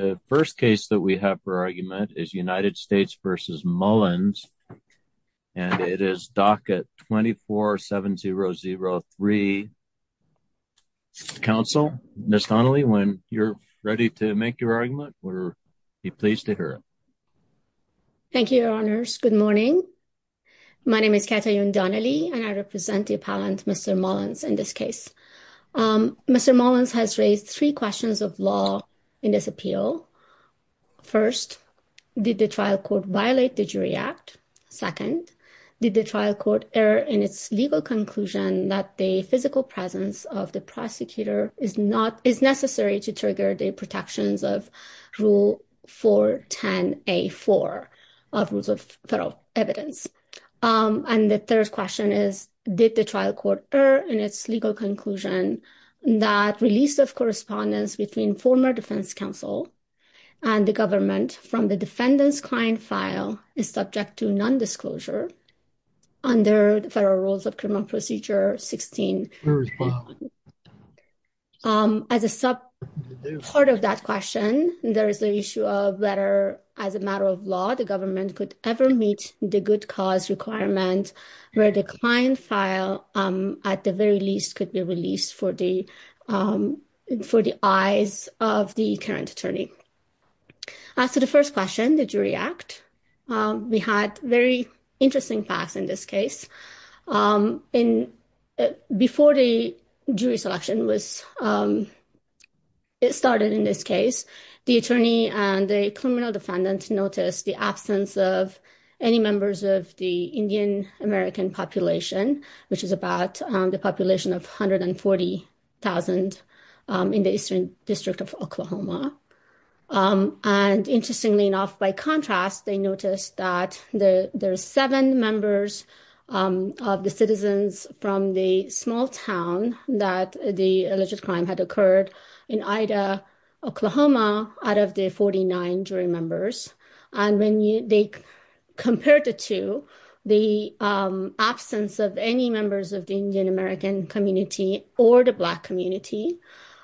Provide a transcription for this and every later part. The first case that we have for argument is United States v. Mullins and it is DACA 247003. Counsel, Ms. Donnelly, when you're ready to make your argument, we'll be pleased to hear it. Thank you, Your Honors. Good morning. My name is Katayoun Donnelly and I represent the appellant, Mr. Mullins, in this case. Mr. Mullins has raised three questions of law in this appeal. First, did the trial court violate the Jury Act? Second, did the trial court err in its legal conclusion that the physical presence of the prosecutor is necessary to trigger the protections of Rule 410A4 of Rules of Federal Evidence? And the third question is, did the trial court err in its legal conclusion that release of correspondence between former defense counsel and the government from the defendant's client file is subject to non-disclosure under the Federal Rules of Criminal Procedure 16? As a sub part of that question, there is the issue of whether, as a matter of law, the government could ever meet the good cause requirement where the client file, at the very least, could be released for the eyes of the current attorney. So the first question, the Jury Act, we had very interesting facts in this case. Before the jury selection started in this case, the attorney and the criminal defendant noticed the absence of any members of the Indian American population, which is about the population of 140,000 in the Eastern District of Oklahoma. And interestingly enough, by contrast, they noticed that there are seven members of the citizens from the small town that the alleged crime had occurred in Ida, Oklahoma, out of the 49 jury members. And when they compared the two, the absence of any members of the Indian American community or the Black community,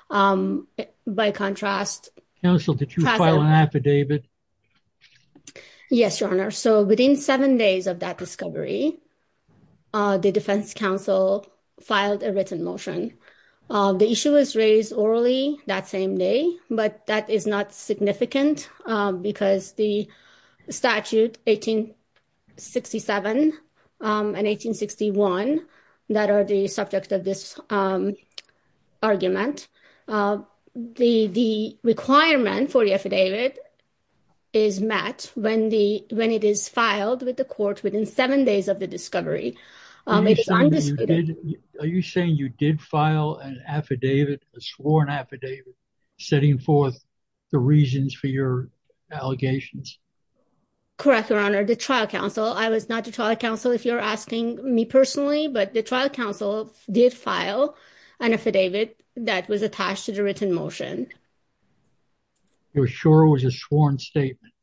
by contrast… Counsel, did you file an affidavit? Yes, Your Honor. So within seven days of that discovery, the Defense Counsel filed a written motion. The issue was raised orally that same day, but that is not significant because the statute 1867 and 1861 that are the subject of this argument. The requirement for the affidavit is met when it is filed with the court within seven days of the discovery. Are you saying you did file an affidavit, a sworn affidavit, setting forth the reasons for your allegations? Correct, Your Honor. The trial counsel, I was not the trial counsel if you're asking me personally, but the trial counsel did file an affidavit that was attached to the written motion. You're sure it was a sworn statement?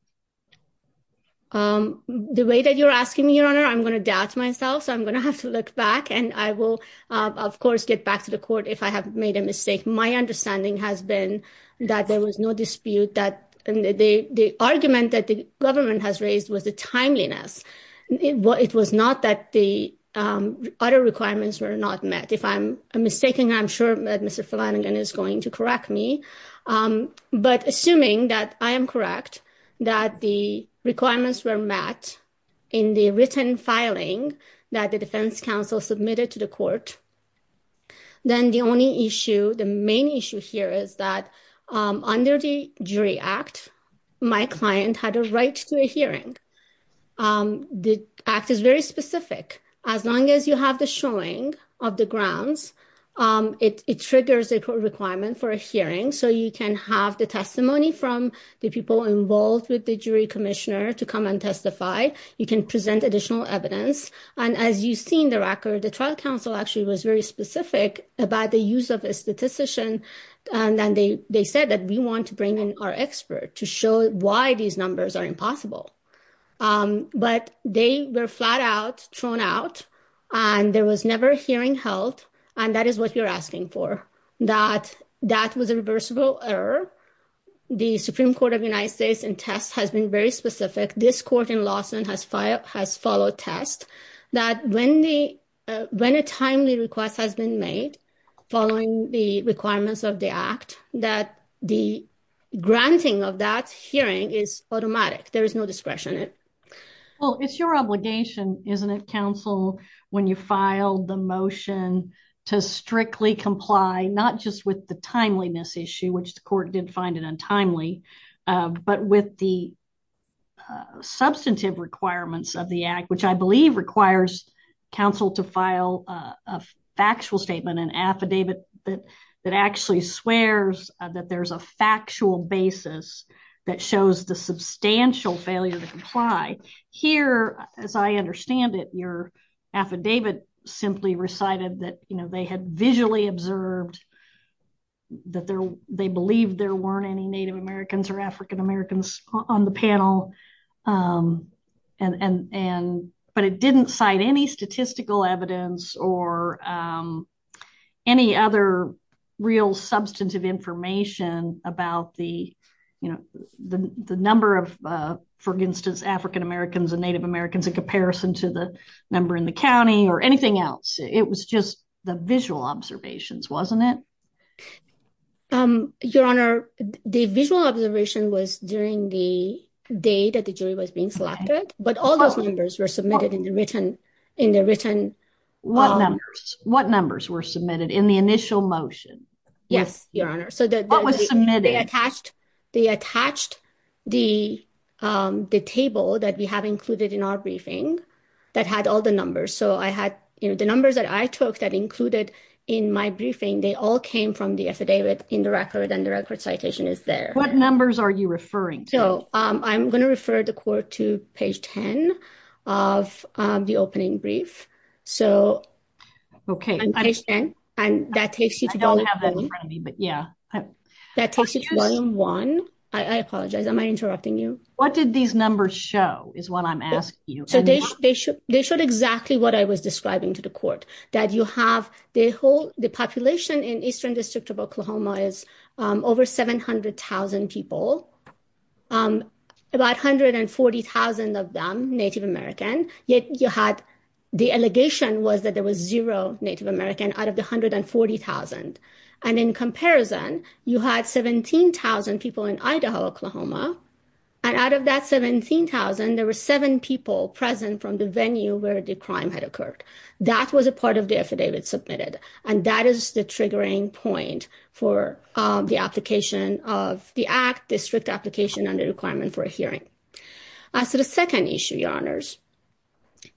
The way that you're asking me, Your Honor, I'm going to doubt myself, so I'm going to have to look back. And I will, of course, get back to the court if I have made a mistake. My understanding has been that there was no dispute that the argument that the government has raised was the timeliness. It was not that the other requirements were not met. If I'm mistaken, I'm sure that Mr. Flanagan is going to correct me. But assuming that I am correct, that the requirements were met in the written filing that the defense counsel submitted to the court, then the only issue, the main issue here is that under the Jury Act, my client had a right to a hearing. The act is very specific. As long as you have the showing of the grounds, it triggers a requirement for a hearing. So you can have the testimony from the people involved with the jury commissioner to come and testify. You can present additional evidence. And as you see in the record, the trial counsel actually was very specific about the use of a statistician. And then they said that we want to bring in our expert to show why these numbers are impossible. But they were flat out thrown out. And there was never a hearing held. And that is what you're asking for, that that was a reversible error. The Supreme Court of the United States and test has been very specific. This court in Lawson has filed has followed test that when the when a timely request has been made following the requirements of the act, that the granting of that hearing is automatic. There is no discretion. Well, it's your obligation, isn't it? Counsel, when you filed the motion to strictly comply, not just with the timeliness issue, which the court did find it untimely, but with the substantive requirements of the act, which I believe requires counsel to file a factual statement, an affidavit that that actually swears that there's a factual basis that shows the substantial failure to comply here. As I understand it, your affidavit simply recited that they had visually observed. That they believe there weren't any Native Americans or African-Americans on the panel. And and but it didn't cite any statistical evidence or any other real substantive information about the, you know, the number of, for instance, African-Americans and Native Americans in comparison to the number in the county or anything else. It was just the visual observations, wasn't it? Your Honor, the visual observation was during the day that the jury was being selected. But all those numbers were submitted in the written in the written. What numbers? What numbers were submitted in the initial motion? Yes, Your Honor. So that was submitted attached. They attached the the table that we have included in our briefing that had all the numbers. So I had the numbers that I took that included in my briefing. They all came from the affidavit in the record and the record citation is there. What numbers are you referring to? I'm going to refer the court to page 10 of the opening brief. So, OK, I understand. And that takes you to. I don't have that in front of me, but yeah, that takes you to volume one. I apologize. Am I interrupting you? What did these numbers show is what I'm asking you. They showed exactly what I was describing to the court that you have. They hold the population in Eastern District of Oklahoma is over 700000 people, about hundred and forty thousand of them Native American. Yet you had the allegation was that there was zero Native American out of the hundred and forty thousand. And in comparison, you had 17000 people in Idaho, Oklahoma. And out of that 17000, there were seven people present from the venue where the crime had occurred. That was a part of the affidavit submitted. And that is the triggering point for the application of the act, the strict application and the requirement for a hearing. So the second issue, your honors,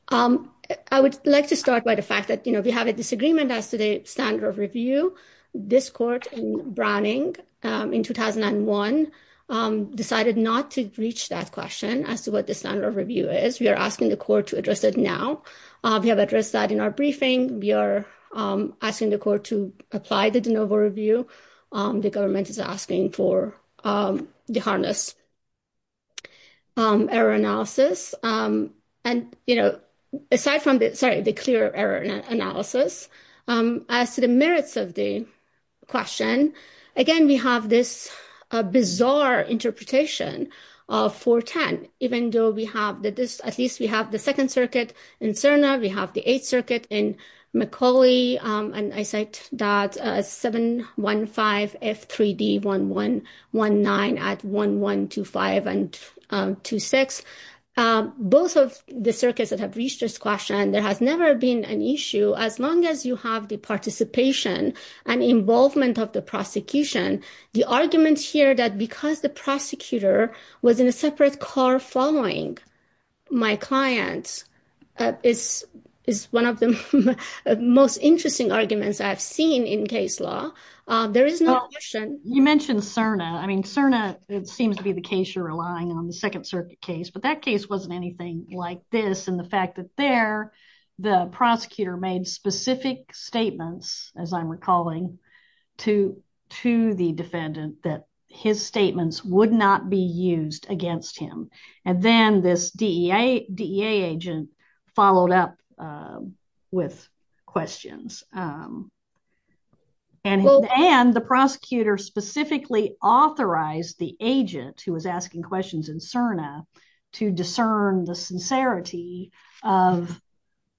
I would like to start by the fact that we have a disagreement as to the standard of review. This court in Browning in 2001 decided not to reach that question as to what the standard of review is. We are asking the court to address it now. We have addressed that in our briefing. We are asking the court to apply the de novo review. The government is asking for the harness error analysis. And, you know, aside from that, sorry, the clear error analysis as to the merits of the question. Again, we have this bizarre interpretation of 410. Even though we have that this at least we have the Second Circuit in Suriname, we have the Eighth Circuit in Macaulay. And I cite that 715 F3D 1119 at 1125 and 26. Both of the circuits that have reached this question, there has never been an issue as long as you have the participation and involvement of the prosecution. The argument here that because the prosecutor was in a separate car following my clients is is one of the most interesting arguments I've seen in case law. You mentioned Serna. I mean, Serna, it seems to be the case you're relying on the Second Circuit case, but that case wasn't anything like this. And the fact that there the prosecutor made specific statements, as I'm recalling to to the defendant that his statements would not be used against him. And then this DEA agent followed up with questions. And and the prosecutor specifically authorized the agent who was asking questions in Serna to discern the sincerity of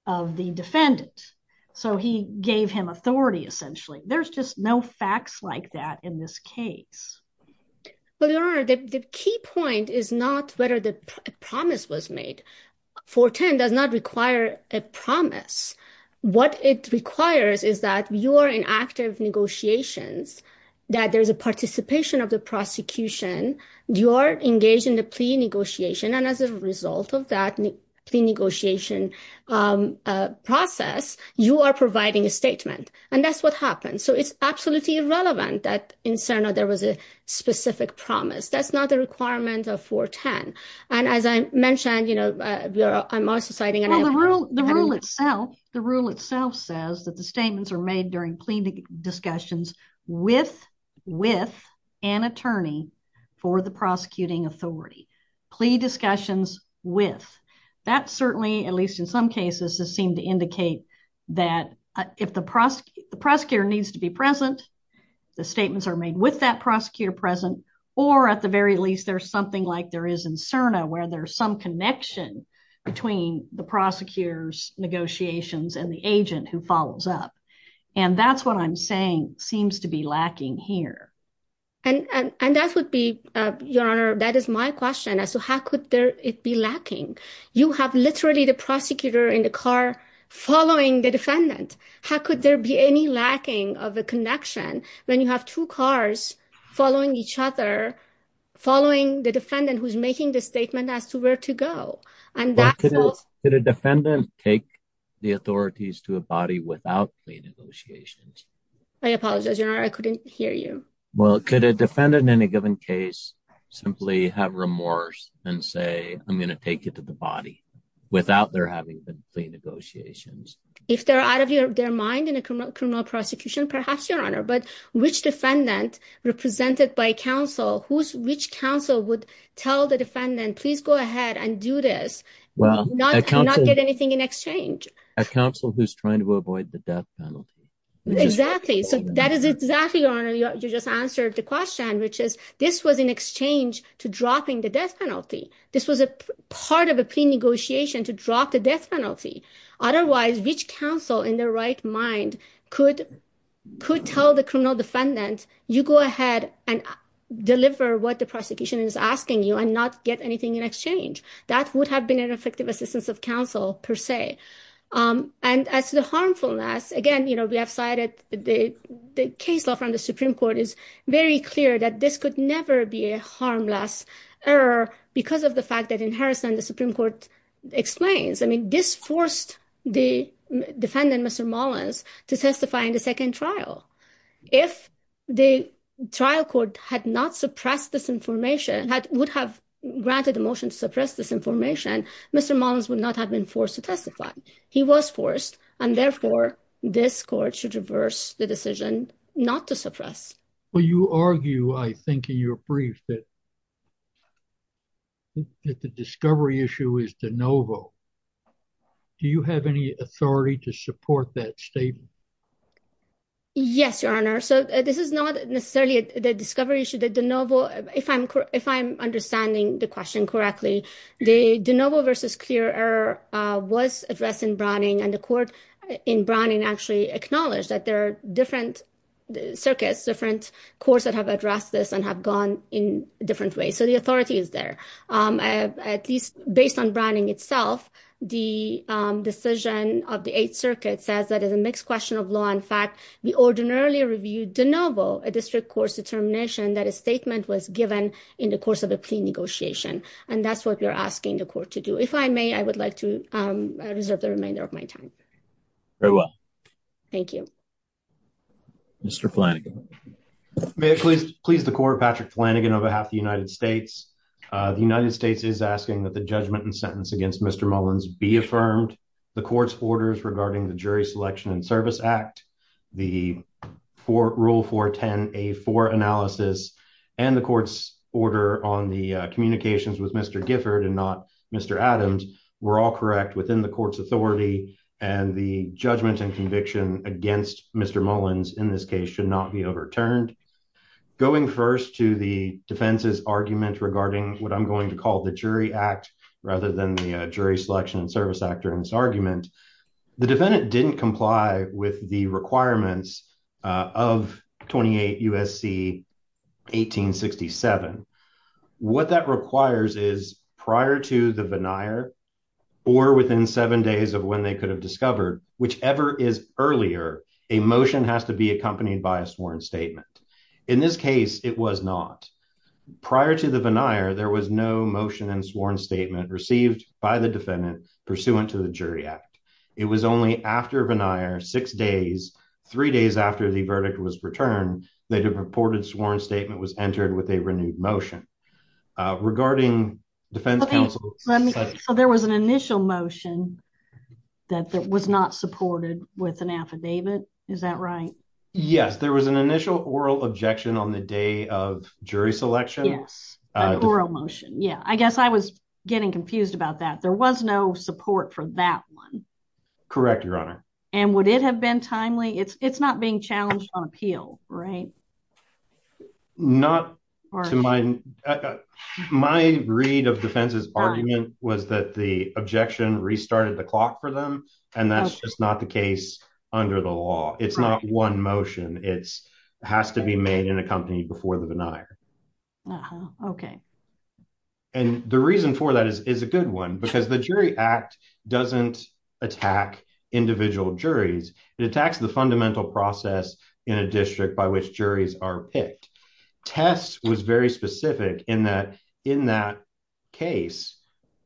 of the defendant. So he gave him authority. Essentially, there's just no facts like that in this case. Well, your honor, the key point is not whether the promise was made. 410 does not require a promise. What it requires is that you are in active negotiations, that there is a participation of the prosecution. You are engaged in the plea negotiation. And as a result of that, the negotiation process, you are providing a statement. And that's what happens. So it's absolutely irrelevant that in Serna there was a specific promise. That's not the requirement of 410. And as I mentioned, you know, I'm also citing the rule itself. The rule itself says that the statements are made during plea discussions with with an attorney for the prosecuting authority plea discussions with. That certainly, at least in some cases, seem to indicate that if the prosecutor needs to be present, the statements are made with that prosecutor present. Or at the very least, there's something like there is in Serna where there's some connection between the prosecutor's negotiations and the agent who follows up. And that's what I'm saying seems to be lacking here. And that would be your honor. That is my question. So how could it be lacking? You have literally the prosecutor in the car following the defendant. How could there be any lacking of a connection when you have two cars following each other, following the defendant who's making the statement as to where to go? And that could a defendant take the authorities to a body without plea negotiations? I apologize. I couldn't hear you. Well, could a defendant in a given case, simply have remorse and say, I'm going to take it to the body without their having the negotiations. If they're out of their mind in a criminal prosecution, perhaps your honor, but which defendant represented by counsel who's which counsel would tell the defendant, please go ahead and do this. Well, not get anything in exchange. A counsel who's trying to avoid the death penalty. Exactly. So that is exactly your honor. You just answered the question, which is this was in exchange to dropping the death penalty. This was a part of a plea negotiation to drop the death penalty. Otherwise, which counsel in their right mind could could tell the criminal defendant, you go ahead and deliver what the prosecution is asking you and not get anything in exchange. That would have been an effective assistance of counsel per se. And as the harmfulness again, we have cited the case law from the Supreme Court is very clear that this could never be a harmless error because of the fact that in Harrison, the Supreme Court explains. I mean, this forced the defendant, Mr. Mullins to testify in the second trial. If the trial court had not suppressed this information that would have granted the motion to suppress this information, Mr. Mullins would not have been forced to testify. He was forced. And therefore, this court should reverse the decision not to suppress. Well, you argue, I think, in your brief that the discovery issue is de novo. Do you have any authority to support that statement? Yes, Your Honor. So this is not necessarily the discovery issue that de novo. If I'm if I'm understanding the question correctly, the de novo versus clear error was addressed in Browning and the court in Browning actually acknowledge that there are different circuits, different courts that have addressed this and have gone in different ways. And so the authority is there, at least based on Browning itself. The decision of the Eighth Circuit says that is a mixed question of law. In fact, we ordinarily reviewed de novo, a district court's determination that a statement was given in the course of a plea negotiation. And that's what we're asking the court to do. If I may, I would like to reserve the remainder of my time. Very well. Thank you. Mr. Flanagan. May it please the court, Patrick Flanagan on behalf of the United States. The United States is asking that the judgment and sentence against Mr. Mullins be affirmed. The court's orders regarding the Jury Selection and Service Act, the rule 410A4 analysis, and the court's order on the communications with Mr. Gifford and not Mr. Adams were all correct within the court's authority. And the judgment and conviction against Mr. Mullins in this case should not be overturned. Going first to the defense's argument regarding what I'm going to call the Jury Act, rather than the Jury Selection and Service Act or in this argument, the defendant didn't comply with the requirements of 28 USC 1867. What that requires is prior to the veneer, or within seven days of when they could have discovered, whichever is earlier emotion has to be accompanied by a sworn statement. In this case, it was not prior to the veneer there was no motion and sworn statement received by the defendant pursuant to the jury act. It was only after veneer six days, three days after the verdict was returned, they have reported sworn statement was entered with a renewed motion regarding defense counsel. There was an initial motion that was not supported with an affidavit. Is that right. Yes, there was an initial oral objection on the day of jury selection. Motion. Yeah, I guess I was getting confused about that there was no support for that one. Correct, Your Honor, and would it have been timely it's not being challenged on appeal. Right. Not to my, my read of defenses argument was that the objection restarted the clock for them. And that's just not the case. Under the law, it's not one motion, it's has to be made in a company before the veneer. Okay. And the reason for that is, is a good one because the jury act doesn't attack individual juries, it attacks the fundamental process in a district by which juries are picked test was very specific in that, in that case,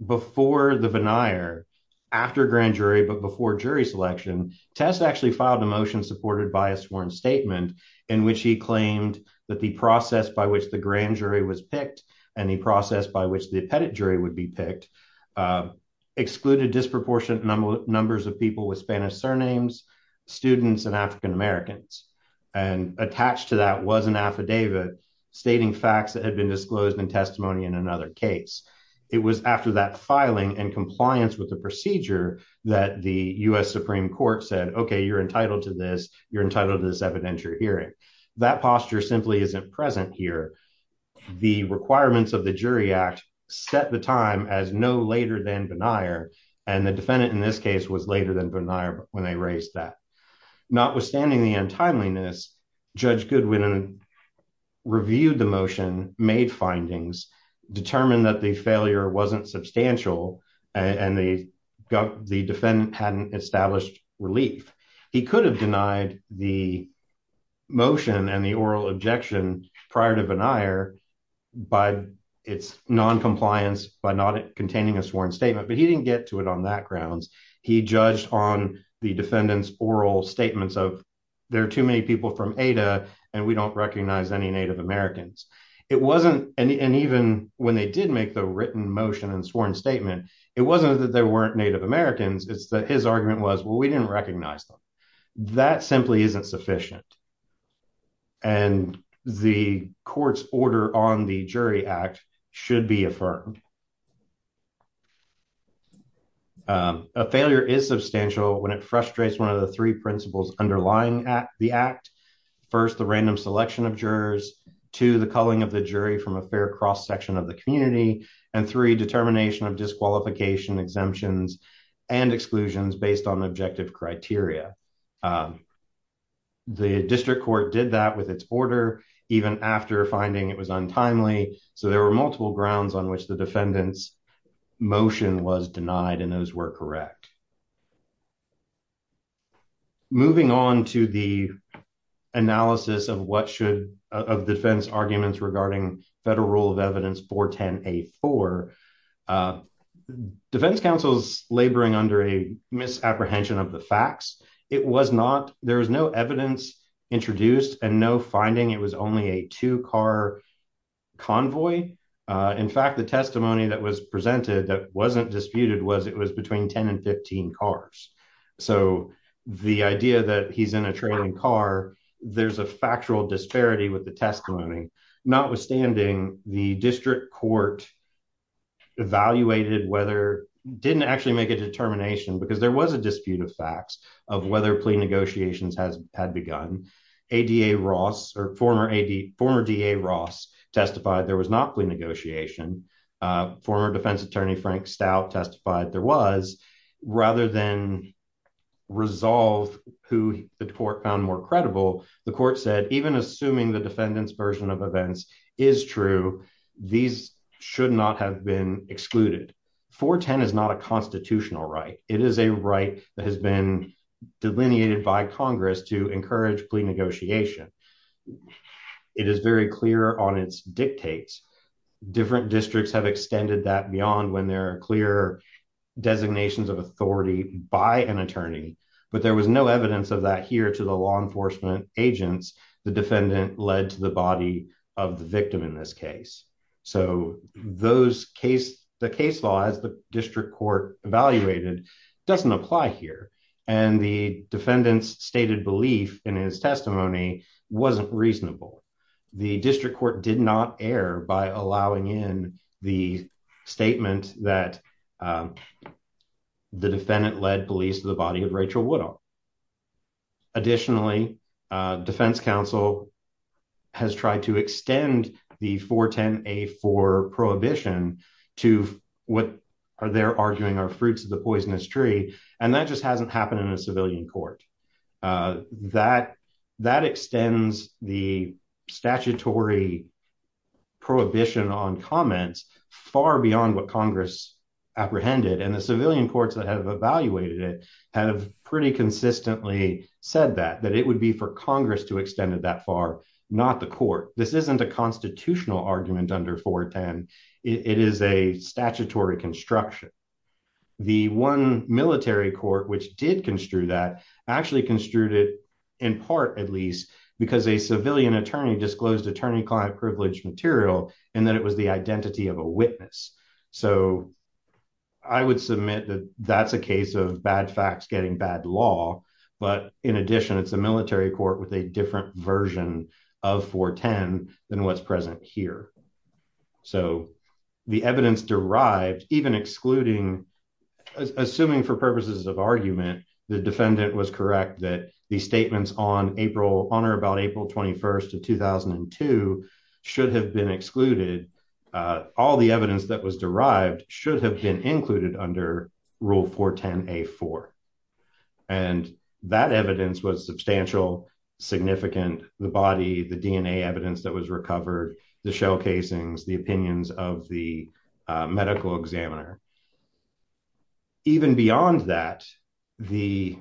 before the veneer. After grand jury but before jury selection test actually filed a motion supported by a sworn statement in which he claimed that the process by which the grand jury was picked any process by which the pedigree would be picked excluded disproportionate numbers of people with Spanish surnames students and African Americans, and attached to that was an affidavit stating facts that had been disclosed in testimony in another case. It was after that filing and compliance with the procedure that the US Supreme Court said okay you're entitled to this, you're entitled to this evidentiary hearing that posture simply isn't present here. The requirements of the jury act set the time as no later than denier, and the defendant in this case was later than bernard when they raised that notwithstanding the untimeliness judge Goodwin and reviewed the motion made findings, determined that the failure wasn't substantial, and they got the defendant hadn't established relief. He could have denied the motion and the oral objection prior to an ire by its non compliance by not containing a sworn statement but he didn't get to it on that grounds. He judged on the defendants oral statements of. There are too many people from Ada, and we don't recognize any Native Americans. It wasn't an even when they did make the written motion and sworn statement. It wasn't that they weren't Native Americans, it's that his argument was well we didn't recognize them. That simply isn't sufficient. And the courts order on the jury act should be affirmed. A failure is substantial when it frustrates one of the three principles underlying at the act. First, the random selection of jurors to the calling of the jury from a fair cross section of the community, and three determination of disqualification exemptions and exclusions based on objective criteria. The district court did that with its order, even after finding it was untimely. So there were multiple grounds on which the defendants motion was denied and those were correct. Moving on to the analysis of what should have defense arguments regarding federal rule of evidence for 10 a for defense counsel's laboring under a misapprehension of the facts, it was not, there was no evidence introduced and no finding it was only a two car convoy. In fact, the testimony that was presented that wasn't disputed was it was between 10 and 15 cars. So, the idea that he's in a training car. There's a factual disparity with the testimony, notwithstanding the district court evaluated whether didn't actually make a determination because there was a dispute of facts of whether plea negotiations has had begun a da Ross or former ad former da Ross testified there was not plea negotiation. Former defense attorney Frank stout testified there was rather than resolve, who the court found more credible. The court said, even assuming the defendants version of events is true. These should not have been excluded for 10 is not a constitutional right, it is a right that has been delineated by Congress to encourage plea negotiation. It is very clear on its dictates different districts have extended that beyond when there are clear designations of authority by an attorney, but there was no evidence of that here to the law enforcement agents, the defendant led to the body of the reasonable. The district court did not air by allowing in the statement that the defendant led police to the body of Rachel widow. Additionally, Defense Council has tried to extend the 410 a for prohibition to what they're arguing are fruits of the poisonous tree, and that just hasn't happened in a civilian court. That that extends the statutory prohibition on comments far beyond what Congress apprehended and the civilian courts that have evaluated it have pretty consistently said that that it would be for Congress to extend it that far, not the court. This isn't a constitutional argument under 410. It is a statutory construction. The one military court which did construe that actually construed it in part, at least, because a civilian attorney disclosed attorney client privilege material, and then it was the identity of a witness. So, I would submit that that's a case of bad facts getting bad law. But in addition, it's a military court with a different version of 410 than what's present here. So, the evidence derived even excluding assuming for purposes of argument, the defendant was correct that the statements on April on or about April 21 of 2002 should have been excluded. All the evidence that was derived should have been included under Rule 410 a for and that evidence was substantial significant the body the DNA evidence that was recovered the shell casings the opinions of the medical examiner. Even beyond that, the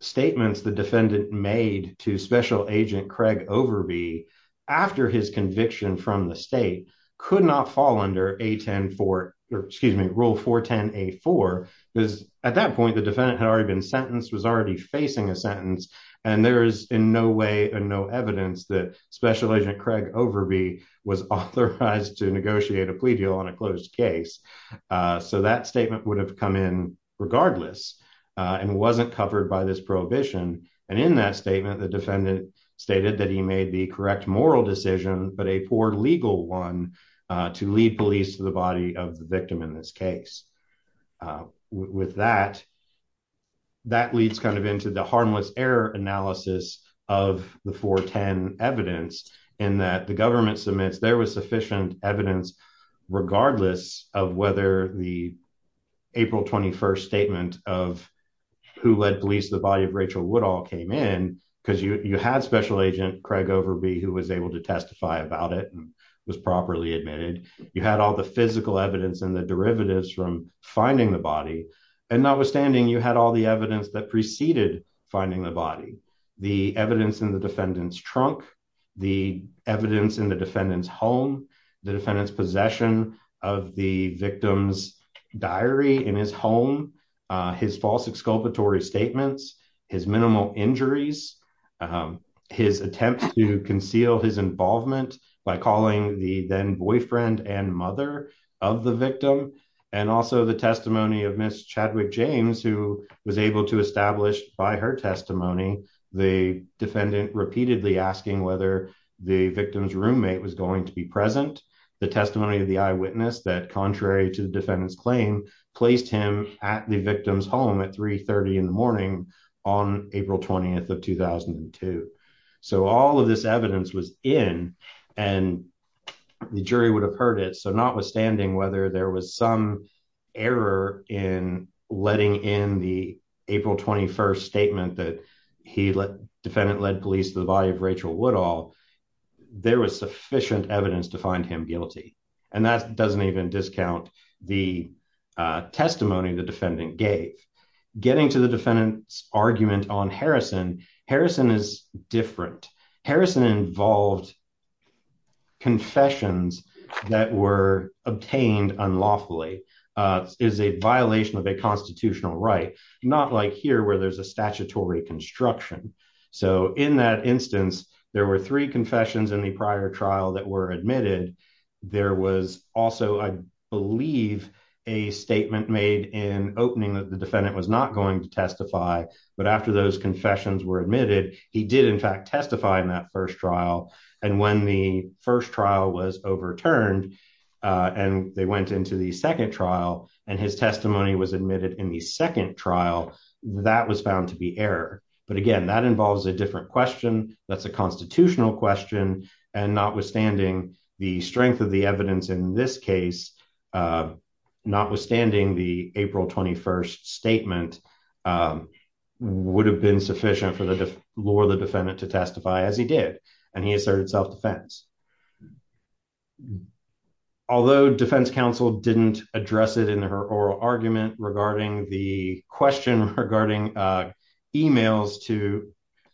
statements the defendant made to Special Agent Craig over be after his conviction from the state could not fall under a 10 for, excuse me, Rule 410 a for is, at that point the defendant had already been sentenced was already facing a sentence, and there is no evidence that Special Agent Craig over be was authorized to negotiate a plea deal on a closed case. So that statement would have come in, regardless, and wasn't covered by this prohibition, and in that statement the defendant stated that he made the correct moral decision, but a poor legal one to lead police to the body of the victim in this case. With that, that leads kind of into the harmless error analysis of the 410 evidence in that the government submits there was sufficient evidence, regardless of whether the April 21 statement of who led police the body of Rachel would all came in, because you had Special Agent Craig over be who was able to testify about it was properly admitted, you had all the physical evidence and the derivatives from finding the body, and notwithstanding you had all the evidence that preceded finding the body, the evidence in the defendant's trunk, the evidence in the defendant's home, the defendant's possession of the victim's diary in his home, his false exculpatory statements, his minimal injuries, his attempt to conceal his involvement by calling the then boyfriend and mother of the victim, and also the testimony of Miss Chadwick James who was able to establish by her testimony, the defendant repeatedly asking whether the victim's roommate was going to be present. The testimony of the eyewitness that contrary to the defendant's claim placed him at the victim's home at 330 in the morning on April 20 of 2002. So all of this evidence was in, and the jury would have heard it so notwithstanding whether there was some error in letting in the April 21 statement that he let defendant led police the body of Rachel would all there was sufficient evidence to find him guilty. And that doesn't even discount the testimony the defendant gave. Getting to the defendant's argument on Harrison, Harrison is different. Harrison involved confessions that were obtained unlawfully is a violation of a constitutional right, not like here where there's a statutory construction. So in that instance, there were three confessions in the prior trial that were admitted. There was also I believe a statement made in opening that the defendant was not going to testify, but after those confessions were admitted, he did in fact testify in that first trial. And when the first trial was overturned, and they went into the second trial, and his testimony was admitted in the second trial that was found to be error. But again, that involves a different question. That's a constitutional question, and notwithstanding the strength of the evidence in this case, notwithstanding the April 21 statement would have been sufficient for the law, the defendant to testify as he did, and he asserted self defense. Although defense counsel didn't address it in her oral argument regarding the question regarding emails to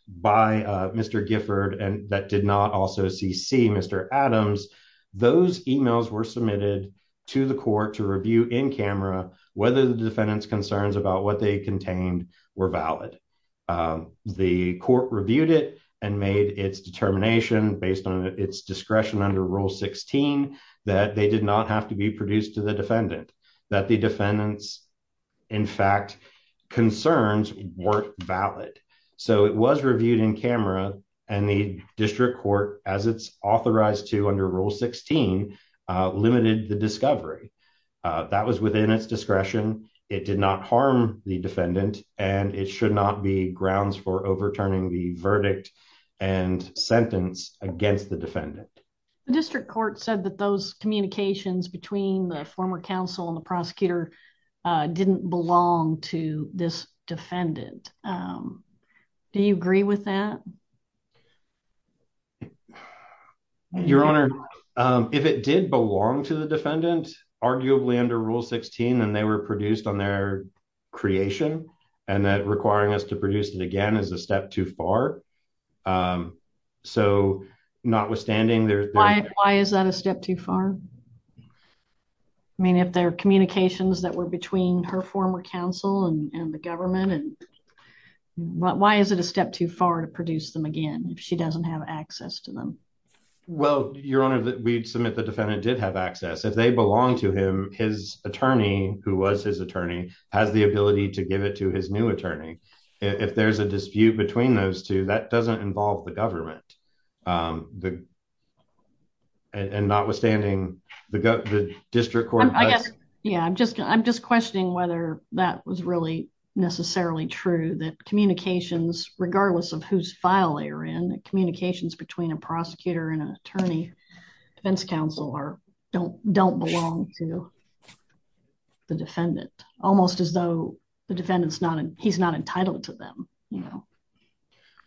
by Mr. Gifford and that did not also see see Mr. Adams, those emails were submitted to the court to review in camera, whether the defendant's concerns about what they contained were valid. The court reviewed it and made its determination based on its discretion under Rule 16 that they did not have to be produced to the defendant that the defendants. In fact, concerns weren't valid. So it was reviewed in camera, and the district court, as it's authorized to under Rule 16 limited the discovery that was within its discretion. It did not harm the defendant, and it should not be grounds for overturning the verdict and sentence against the defendant. District Court said that those communications between the former counsel and the prosecutor didn't belong to this defendant. Do you agree with that. Your Honor. If it did belong to the defendant, arguably under Rule 16 and they were produced on their creation, and that requiring us to produce it again as a step too far. So, notwithstanding there, why is that a step too far. I mean if their communications that were between her former counsel and the government and why is it a step too far to produce them again, she doesn't have access to them. Well, your honor that we submit the defendant did have access if they belong to him, his attorney, who was his attorney has the ability to give it to his new attorney. If there's a dispute between those two that doesn't involve the government. And notwithstanding, the district court. Yeah, I'm just, I'm just questioning whether that was really necessarily true that communications, regardless of whose file they are in the communications between a prosecutor and an attorney defense counsel or don't don't belong to the defendant, almost as though the defendants not and he's not entitled to them.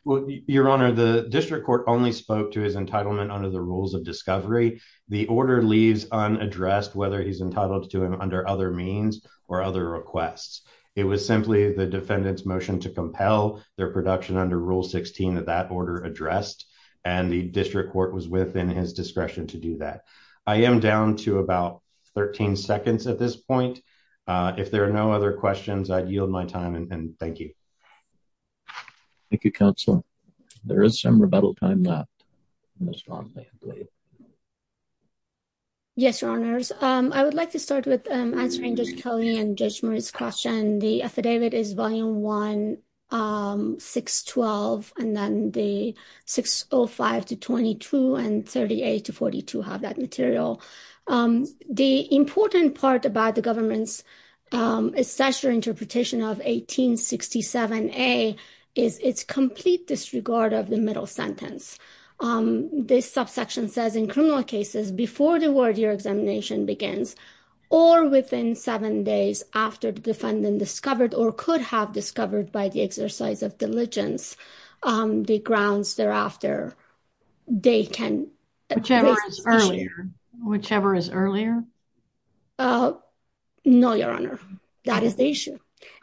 Well, your honor the district court only spoke to his entitlement under the rules of discovery, the order leaves on addressed whether he's entitled to him under other means or other requests. It was simply the defendants motion to compel their production under Rule 16 of that order addressed, and the district court was within his discretion to do that. I am down to about 13 seconds at this point. If there are no other questions I'd yield my time and thank you. Thank you, Council. There is some rebuttal time left. Yes, your honors, I would like to start with answering just Kelly and judge Murray's question the affidavit is volume 1612, and then the 605 to 22 and 38 to 42 have that material. The important part about the government's assessor interpretation of 1867 a is it's complete disregard of the middle sentence. This subsection says in criminal cases before the word your examination begins, or within seven days after the defendant discovered or could have discovered by the exercise of diligence. The grounds thereafter. They can, whichever is earlier, whichever is earlier. No, your honor. That is the issue.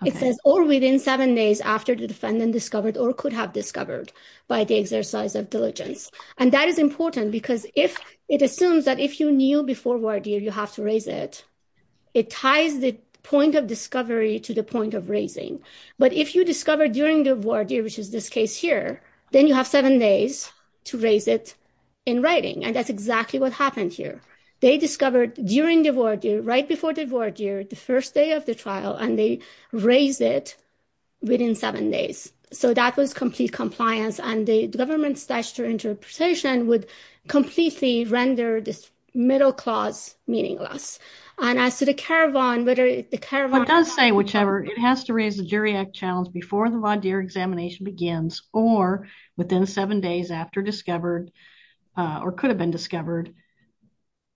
It says, or within seven days after the defendant discovered or could have discovered by the exercise of diligence, and that is important because if it assumes that if you knew before what do you have to raise it. It ties the point of discovery to the point of raising, but if you discover during the war do which is this case here, then you have seven days to raise it in writing and that's exactly what happened here. They discovered during the war do right before the war do the first day of the trial and they raise it within seven days. So that was complete compliance and the government's gesture interpretation would completely render this middle class meaningless. And as to the caravan whether the caravan does say whichever it has to raise the jury act challenge before the law dear examination begins, or within seven days after discovered, or could have been discovered,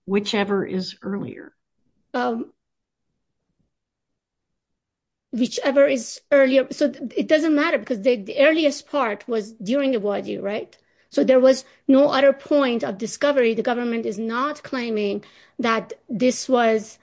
whichever is earlier. Whichever is earlier, so it doesn't matter because the earliest part was during the war do right. So there was no other point of discovery, the government is not claiming that this was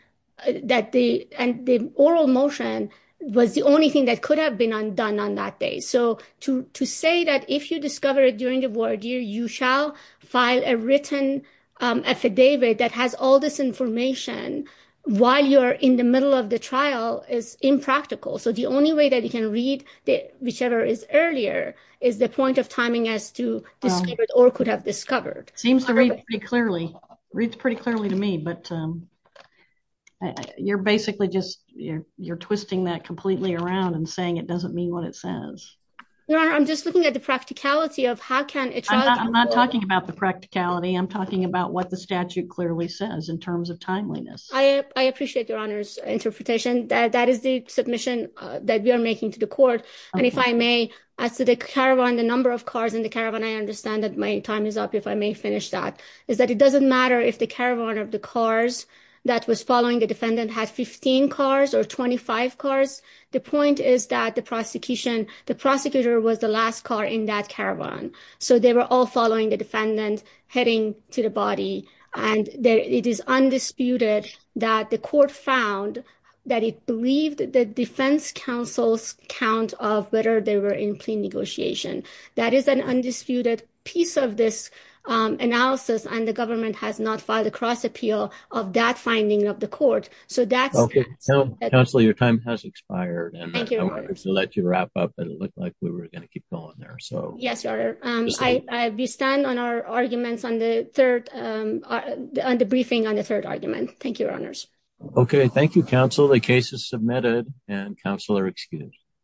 that the, and the oral motion was the only thing that could have been undone on that day. So, to say that if you discover it during the war do you shall find a written affidavit that has all this information, while you're in the middle of the trial is impractical so the only way that you can read that whichever is earlier, is the point of timing as to, or could have discovered seems to read pretty clearly to me but you're basically just you're, you're twisting that completely around and saying it doesn't mean what it says, I'm just looking at the practicality of how can I'm not talking about the practicality I'm talking about what the statute is that it doesn't matter if the caravan of the cars that was following the defendant had 15 cars or 25 cars. The point is that the prosecution, the prosecutor was the last car in that caravan. So they were all following the defendant, heading to the body, and it is undisputed that the court found that it believed that the defense counsel's count of whether they were in plea negotiation. That is an undisputed piece of this analysis and the government has not filed a cross appeal of that finding of the court. So that's okay. Your time has expired and let you wrap up and look like we were going to keep going there. So, yes, I stand on our arguments on the third on the briefing on the third argument. Thank you. Okay, thank you counsel the cases submitted and counselor excuse.